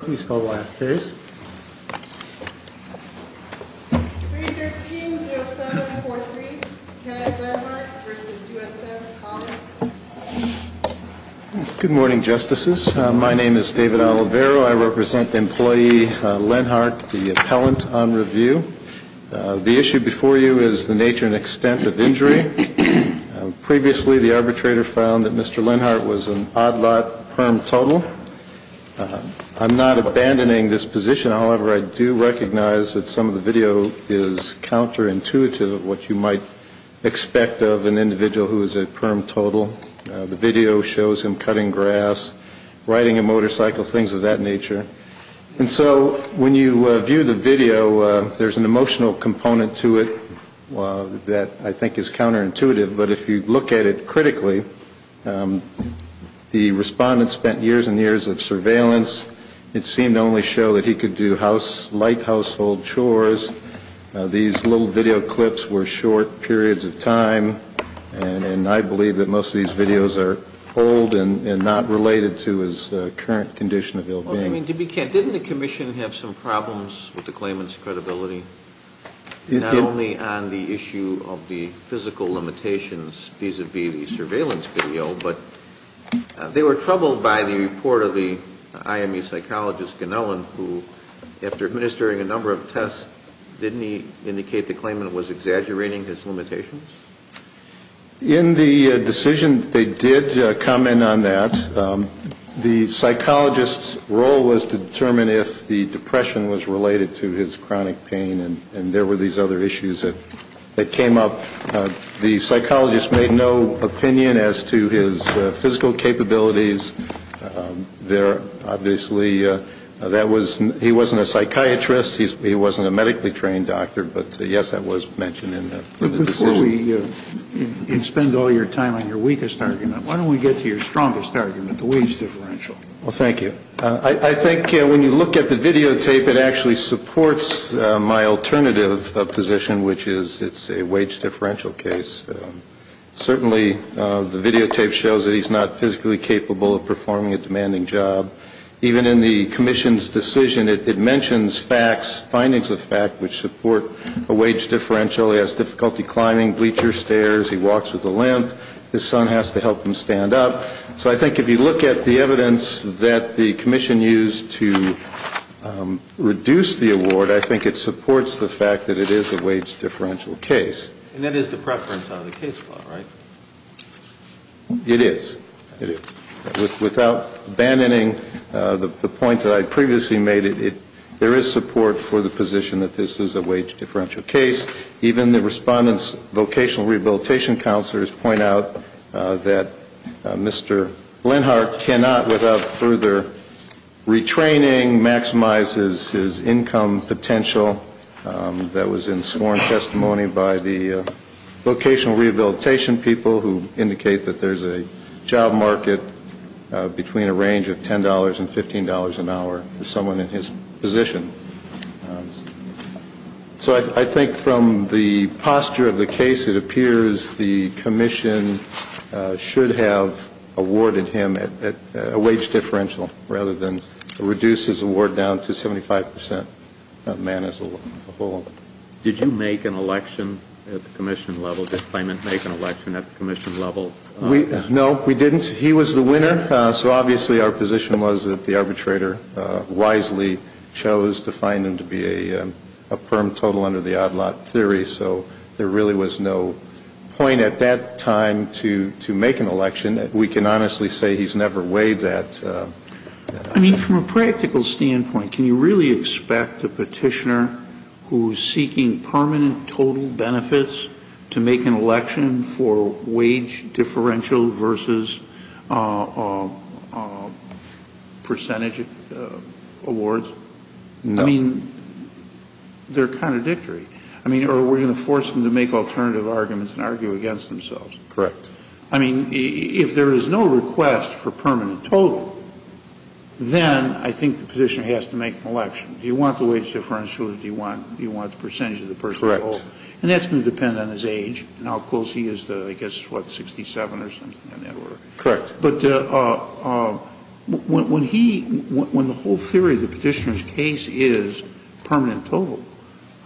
Good morning, Justices. My name is David Oliveiro. I represent employee Lenhart, the appellant on review. The issue before you is the nature and extent of injury. Previously, the arbitrator found that Mr. Lenhart was an odd lot, perm total. I'm not abandoning this position. However, I do recognize that some of the video is counterintuitive of what you might expect of an individual who is a perm total. The video shows him cutting grass, riding a motorcycle, things of that nature. And so, when you look at it critically, the respondent spent years and years of surveillance. It seemed to only show that he could do light household chores. These little video clips were short periods of time, and I believe that most of these videos are old and not related to his current condition of ill-being. I mean, didn't the Commission have some problems with the claimant's credibility? Not only on the issue of the physical limitations vis-à-vis the surveillance video, but they were troubled by the report of the IME psychologist, Ganellan, who, after administering a number of tests, didn't he indicate the claimant was exaggerating his limitations? In the decision, they did comment on that. The psychologist's role was to determine if the depression was related to his chronic pain, and there were these other issues that came up. The psychologist made no opinion as to his physical capabilities. There, obviously, that was, he wasn't a psychiatrist, he wasn't a psychiatrist, and he was not a psychiatrist. And I think that's the reason why it's so important to ask the question, why don't we, you spend all your time on your weakest argument, why don't we get to your strongest argument, the wage differential? Well, thank you. I think when you look at the videotape, it actually supports my alternative position, which is it's a wage-differential case. Certainly, the videotape shows that he's not physically capable of performing a demanding job. Even in the Commission's decision, it mentions facts, findings of fact, which support a wage differential. He has difficulty climbing bleacher stairs, he walks with a limp, his son has to help him stand up. So I think if you look at the evidence that the Commission used to reduce the award, I think it supports the fact that it is a wage-differential case. And that is the preference on the case law, right? It is. Without abandoning the point that I previously made, there is support for the position that this is a wage-differential case. Even the Respondent's vocational rehabilitation counselors point out that Mr. Lenhardt cannot, without further retraining, maximize his income potential. That was in sworn testimony by the vocational rehabilitation people, who indicate that there's a job market between a range of $10 and $15 an hour for someone in his position. So I think from the posture of the case, it appears the Commission should have awarded him a wage-differential, rather than reduce his award down to 75 percent. And that's not a bad thing. I think that, as they say, a man is a whole. Did you make an election at the Commission level? Did Clayman make an election at the Commission level? No, we didn't. He was the winner. So obviously our position was that the arbitrator wisely chose to find him to be a firm total under the odd-lot theory. So there really was no point at that time to make an election. We can honestly say he's never weighed that. I mean, from a practical standpoint, can you really expect a petitioner who's seeking permanent total benefits to make an election for wage differential versus percentage awards? No. I mean, they're contradictory. I mean, are we going to force them to make alternative arguments and argue against themselves? Correct. I mean, if there is no request for permanent total, then I think the petitioner has to make an election. Do you want the wage differential, or do you want the percentage of the person in the poll? Correct. And that's going to depend on his age and how close he is to, I guess, what, 67 or something on that order? Correct. But when the whole theory of the petitioner's case is permanent total,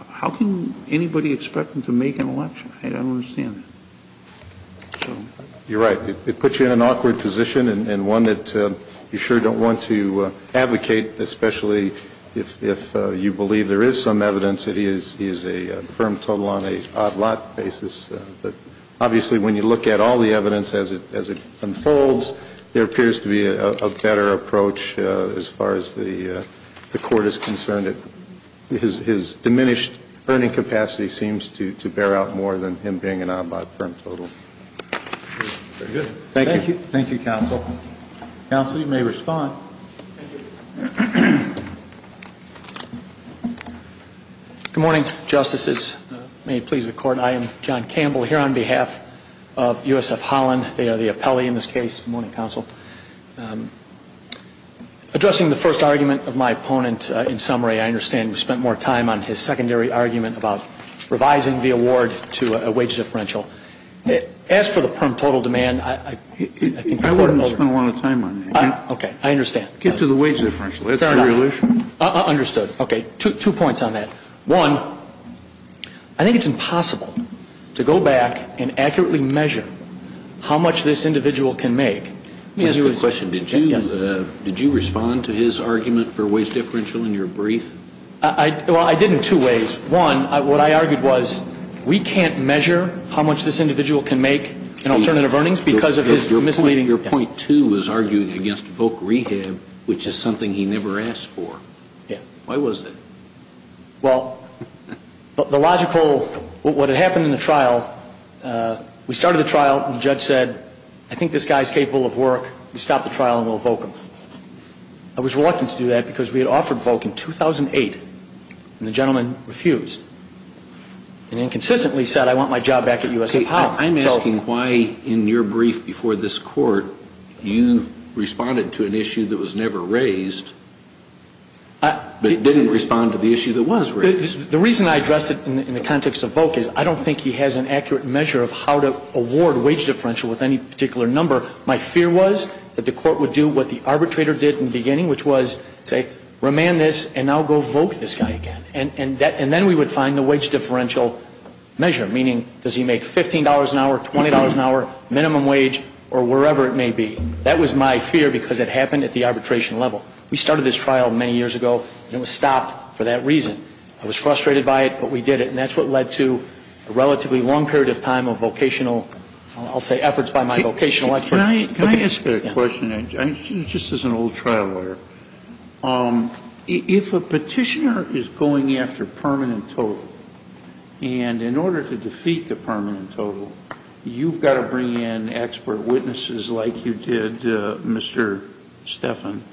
how can anybody expect him to make an election? I don't understand that. You're right. It puts you in an awkward position and one that you sure don't want to advocate, especially if you believe there is some evidence that he is a firm total on an odd-lot basis. But obviously, when you look at all the evidence as it unfolds, there appears to be a better approach as far as the Court is concerned. His diminished earning capacity seems to bear out more than him being an odd-lot firm total. Very good. Thank you. Thank you, Counsel. Counsel, you may respond. Good morning, Justices. May it please the Court, I am John Campbell here on behalf of USF Holland. They are the appellee in this case. Good morning, Counsel. Addressing the first argument of my opponent in summary, I understand we spent more time on his secondary argument about revising the award to a wage differential. As for the firm total demand, I think the Court overruled it. I wouldn't have spent a lot of time on that. Okay. I understand. Get to the wage differential. That's the real issue. Understood. Okay. Two points on that. One, I think it's impossible to go back and accurately measure how much this individual can make. Let me ask you a question. Did you respond to his argument for wage differential in your brief? Well, I did in two ways. One, what I argued was we can't measure how much this individual can make in alternative earnings because of his misleading Your point, too, was arguing against VOC rehab, which is something he never asked for. Yeah. Why was that? Well, the logical, what had happened in the trial, we started the trial and the judge said, I think this guy is capable of work. We stop the trial and we'll VOC him. I was reluctant to do that because we had offered VOC in 2008 and the gentleman refused and inconsistently said I want my job back at USF Holland. See, I'm asking why in your brief before this Court you responded to an issue that was never raised but didn't respond to the issue that was raised. The reason I addressed it in the context of VOC is I don't think he has an accurate measure of how to award wage differential with any particular number. My fear was that the Court would do what the arbitrator did in the beginning, which was say remand this and now go VOC this guy again. And then we would find the wage differential measure, meaning does he make $15 an hour, $20 an hour, minimum wage, or wherever it may be. That was my fear because it happened at the arbitration level. We started this trial many years ago and it was stopped for that reason. I was frustrated by it, but we did it. And that's what led to a relatively long period of time of vocational, I'll say efforts by my vocational attorney. Can I ask a question, just as an old trial lawyer? If a petitioner is going after permanent total and in order to defeat the permanent total, you've got to bring in expert witnesses like you did, Mr. Stephan,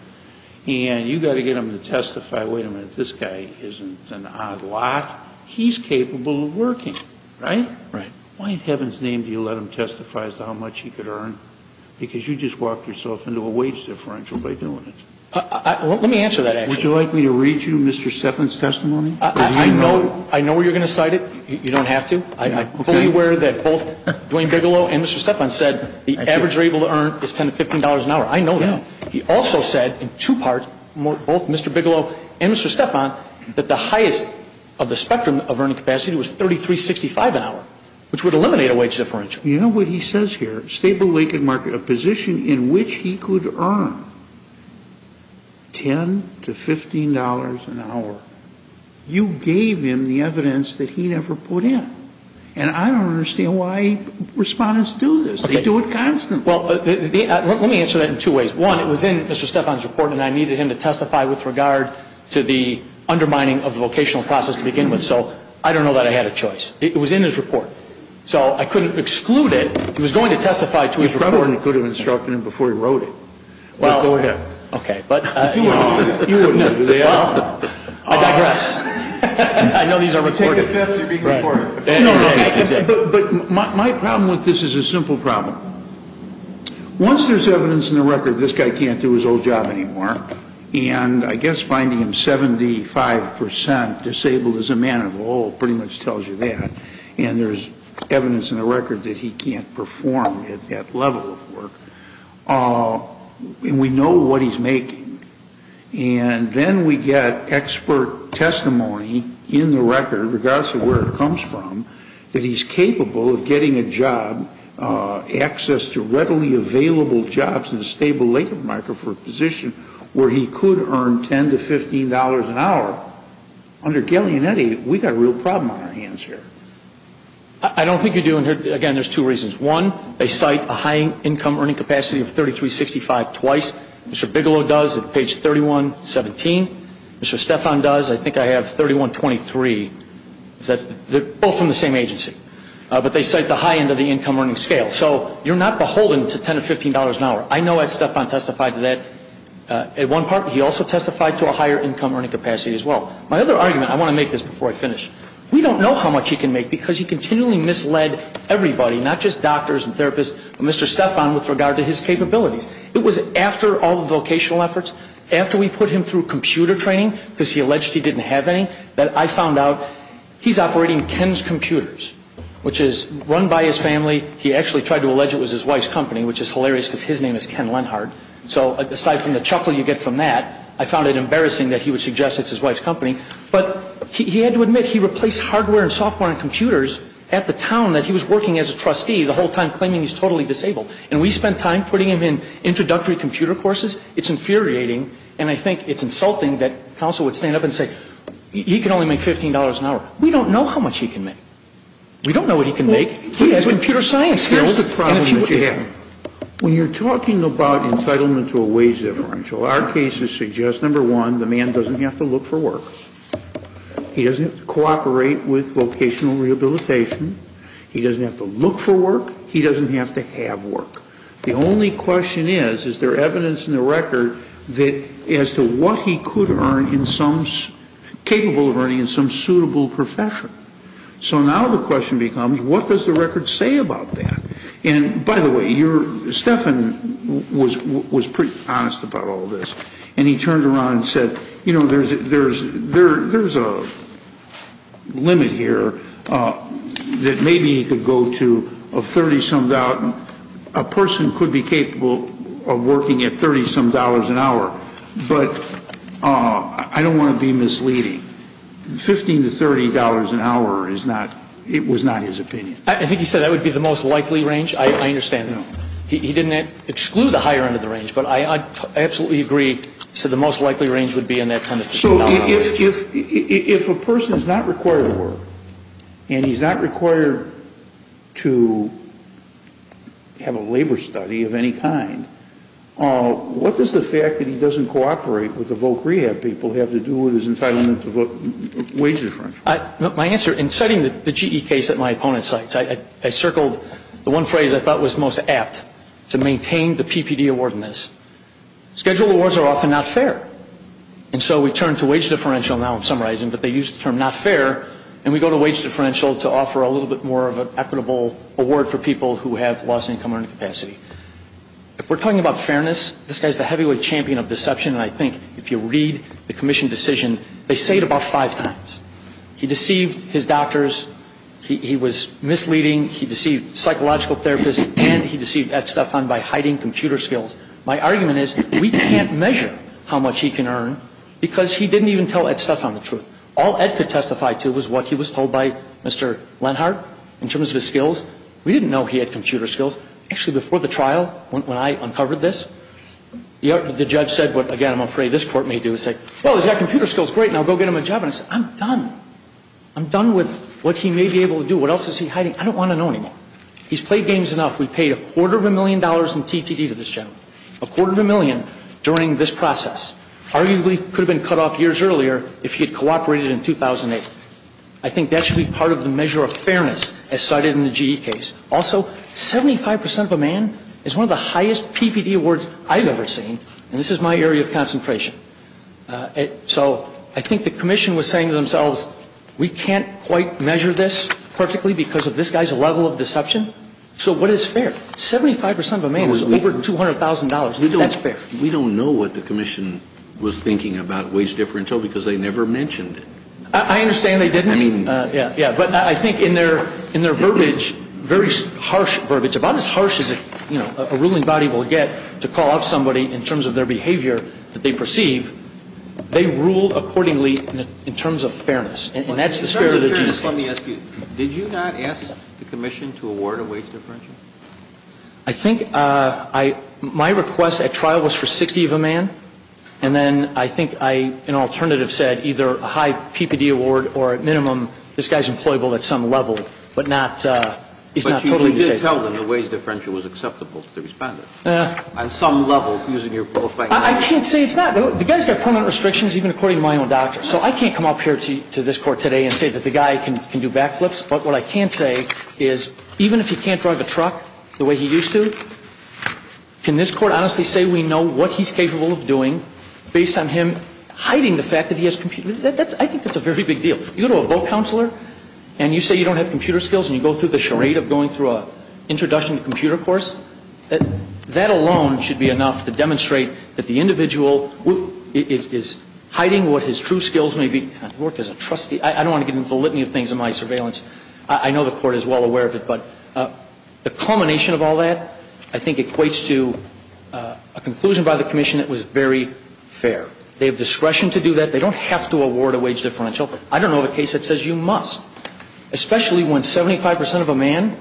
and you've got to get them to testify, wait a minute, this guy isn't an odd lot. He's capable of working, right? Right. Why in heaven's name do you let him testify as to how much he could earn? Because you just walked yourself into a wage differential by doing it. Let me answer that, actually. Would you like me to read you Mr. Stephan's testimony? I know where you're going to cite it. You don't have to. I'm fully aware that both Duane Bigelow and Mr. Stephan said the average you're able to earn is $10 to $15 an hour. I know that. He also said in two parts, both Mr. Bigelow and Mr. Stephan, that the highest of the which would eliminate a wage differential. You know what he says here? Stable, vacant market, a position in which he could earn $10 to $15 an hour. You gave him the evidence that he never put in. And I don't understand why respondents do this. They do it constantly. Well, let me answer that in two ways. One, it was in Mr. Stephan's report and I needed him to testify with regard to the undermining of the vocational process to begin with. So I don't know that I had a choice. It was in his report. So I couldn't exclude it. He was going to testify to his report. He probably could have instructed him before he wrote it. Well, go ahead. Okay. But, you know, I digress. I know these are important. Take a fifth. You're being recorded. But my problem with this is a simple problem. Once there's evidence in the record that this guy can't do his old job anymore, and I guess finding him 75 percent disabled as a man of old pretty much tells you that, and there's evidence in the record that he can't perform at that level of work, and we know what he's making, and then we get expert testimony in the record, regardless of where it comes from, that he's capable of getting a job, access to readily available jobs in a stable labor market for a position where he could earn $10 to $15 an hour. Under Galeanetti, we've got a real problem on our hands here. I don't think you do. And, again, there's two reasons. One, they cite a high income earning capacity of 3,365 twice. Mr. Bigelow does at page 3117. Mr. Stephan does. I think I have 3123. They're both from the same agency. But they cite the high end of the income earning scale. So you're not beholden to $10 to $15 an hour. I know that Stephan testified to that at one part, but he also testified to a higher income earning capacity as well. My other argument, I want to make this before I finish. We don't know how much he can make because he continually misled everybody, not just doctors and therapists, but Mr. Stephan with regard to his capabilities. It was after all the vocational efforts, after we put him through computer training, because he alleged he didn't have any, that I found out he's operating Ken's Computers, which is run by his family. He actually tried to allege it was his wife's company, which is hilarious because his name is Ken Lenhard. So aside from the chuckle you get from that, I found it embarrassing that he would suggest it's his wife's company. But he had to admit he replaced hardware and software and computers at the town that he was working as a trustee, the whole time claiming he's totally disabled. And we spent time putting him in introductory computer courses. It's infuriating, and I think it's insulting that counsel would stand up and say, he can only make $15 an hour. We don't know how much he can make. We don't know what he can make. He has computer science skills. And if he would have. When you're talking about entitlement to a wage differential, our cases suggest, number one, the man doesn't have to look for work. He doesn't have to cooperate with vocational rehabilitation. He doesn't have to look for work. He doesn't have to have work. The only question is, is there evidence in the record that as to what he could earn in some, capable of earning in some suitable profession. So now the question becomes, what does the record say about that? And, by the way, Stefan was pretty honest about all this. And he turned around and said, you know, there's a limit here that maybe he could go to of $30 some. A person could be capable of working at $30 some an hour. But I don't want to be misleading. $15 to $30 an hour is not, it was not his opinion. I think he said that would be the most likely range. I understand. He didn't exclude the higher end of the range. But I absolutely agree. So the most likely range would be in that $10 to $15 range. So if a person is not required to work, and he's not required to have a labor study of any kind, what does the fact that he doesn't cooperate with the voc rehab people have to do with his entitlement to wage differential? My answer, in citing the GE case that my opponent cites, I circled the one phrase I thought was most apt to maintain the PPD award in this. Scheduled awards are often not fair. And so we turn to wage differential now in summarizing, but they use the term not fair, and we go to wage differential to offer a little bit more of an equitable award for people who have lost income or incapacity. If we're talking about fairness, this guy is the heavyweight champion of deception, and I think if you read the commission decision, they say it about five times. He deceived his doctors. He was misleading. He deceived psychological therapists, and he deceived Ed Stephan by hiding computer skills. My argument is we can't measure how much he can earn because he didn't even tell Ed Stephan the truth. All Ed could testify to was what he was told by Mr. Lenhardt in terms of his skills. We didn't know he had computer skills. Actually, before the trial, when I uncovered this, the judge said what, again, I'm afraid this Court may do, is say, well, he's got computer skills, great, now go get him a job. And I said, I'm done. I'm done with what he may be able to do. What else is he hiding? I don't want to know anymore. He's played games enough. We paid a quarter of a million dollars in TTD to this gentleman, a quarter of a million during this process. Arguably could have been cut off years earlier if he had cooperated in 2008. I think that should be part of the measure of fairness as cited in the GE case. Also, 75 percent of a man is one of the highest PPD awards I've ever seen, and this is my area of concentration. So I think the Commission was saying to themselves, we can't quite measure this perfectly because of this guy's level of deception. So what is fair? Seventy-five percent of a man is over $200,000. That's fair. We don't know what the Commission was thinking about wage differential because they never mentioned it. I understand they didn't. But I think in their verbiage, very harsh verbiage, about as harsh as a ruling body will get to call out somebody in terms of their behavior that they perceive, they rule accordingly in terms of fairness. And that's the spirit of the GE case. Did you not ask the Commission to award a wage differential? I think my request at trial was for 60 of a man. And then I think I, in alternative, said either a high PPD award or at minimum, this guy's employable at some level, but not, he's not totally disabled. But you really did tell them the wage differential was acceptable to the Respondent. On some level, using your qualified knowledge. I can't say. It's not. The guy's got permanent restrictions, even according to my own doctor. So I can't come up here to this Court today and say that the guy can do backflips. But what I can say is even if he can't drive a truck the way he used to, can this Court honestly say we know what he's capable of doing based on him hiding the fact that he has computer skills? I think that's a very big deal. You go to a vote counselor and you say you don't have computer skills and you go through the charade of going through an introduction to computer course, that alone should be enough to demonstrate that the individual is hiding what his true skills may be. He worked as a trustee. I don't want to get into the litany of things in my surveillance. I know the Court is well aware of it. But the culmination of all that, I think, equates to a conclusion by the Commission that was very fair. They have discretion to do that. They don't have to award a wage differential. But I don't know of a case that says you must, especially when 75 percent of a man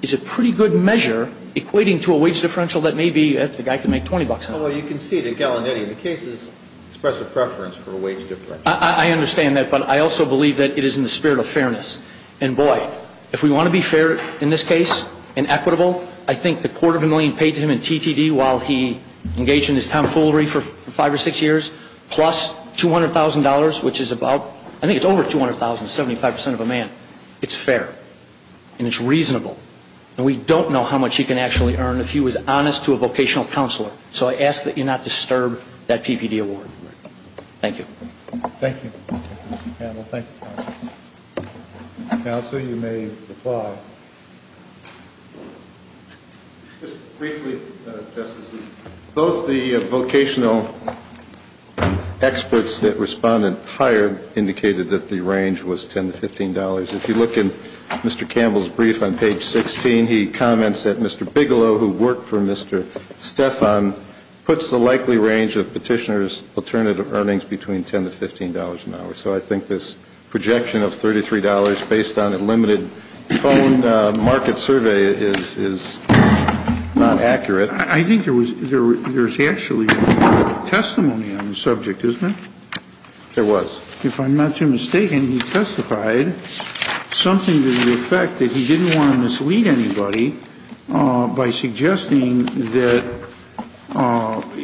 is a pretty good measure equating to a wage differential that maybe the guy could make $20 on. Well, you can see it at Gallinetti. The case is expressive preference for a wage differential. I understand that. But I also believe that it is in the spirit of fairness. And, boy, if we want to be fair in this case and equitable, I think the quarter of a million paid to him in TTD while he engaged in his tomfoolery for five or six years plus $200,000, which is about, I think it's over $200,000, 75 percent of a man. It's fair. And it's reasonable. And we don't know how much he can actually earn if he was honest to a vocational counselor. So I ask that you not disturb that PPD award. Thank you. Thank you, Mr. Campbell. Thank you. Counsel, you may reply. Just briefly, Justices, both the vocational experts that Respondent hired indicated that the range was $10 to $15. If you look in Mr. Campbell's brief on page 16, he comments that Mr. Bigelow, who worked for Mr. Stephan, puts the likely range of petitioners' alternative earnings between $10 to $15 an hour. So I think this projection of $33 based on a limited phone market survey is not accurate. I think there's actually testimony on the subject, isn't there? There was. If I'm not mistaken, he testified something to the effect that he didn't want to mislead anybody by suggesting that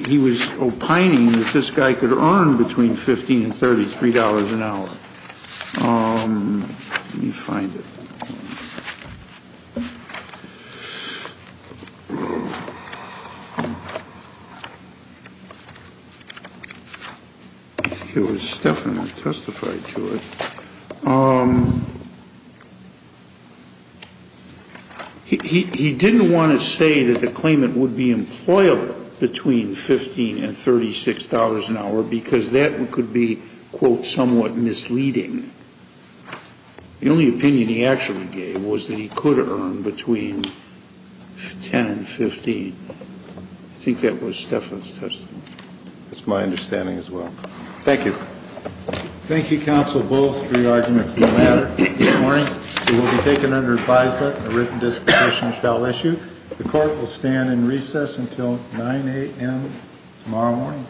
he was opining that this guy could earn between $15 and $33 an hour. Let me find it. I think it was Stephan that testified to it. He didn't want to say that the claimant would be employable between $15 and $36 an hour because that could be, quote, somewhat misleading. The only opinion he actually gave was that he could earn between $10 and $15. I think that was Stephan's testimony. That's my understanding as well. Thank you. Thank you, counsel, both for your arguments. No matter. Good morning. You will be taken under advisement. A written disposition shall issue. The court will stand in recess until 9 a.m. tomorrow morning.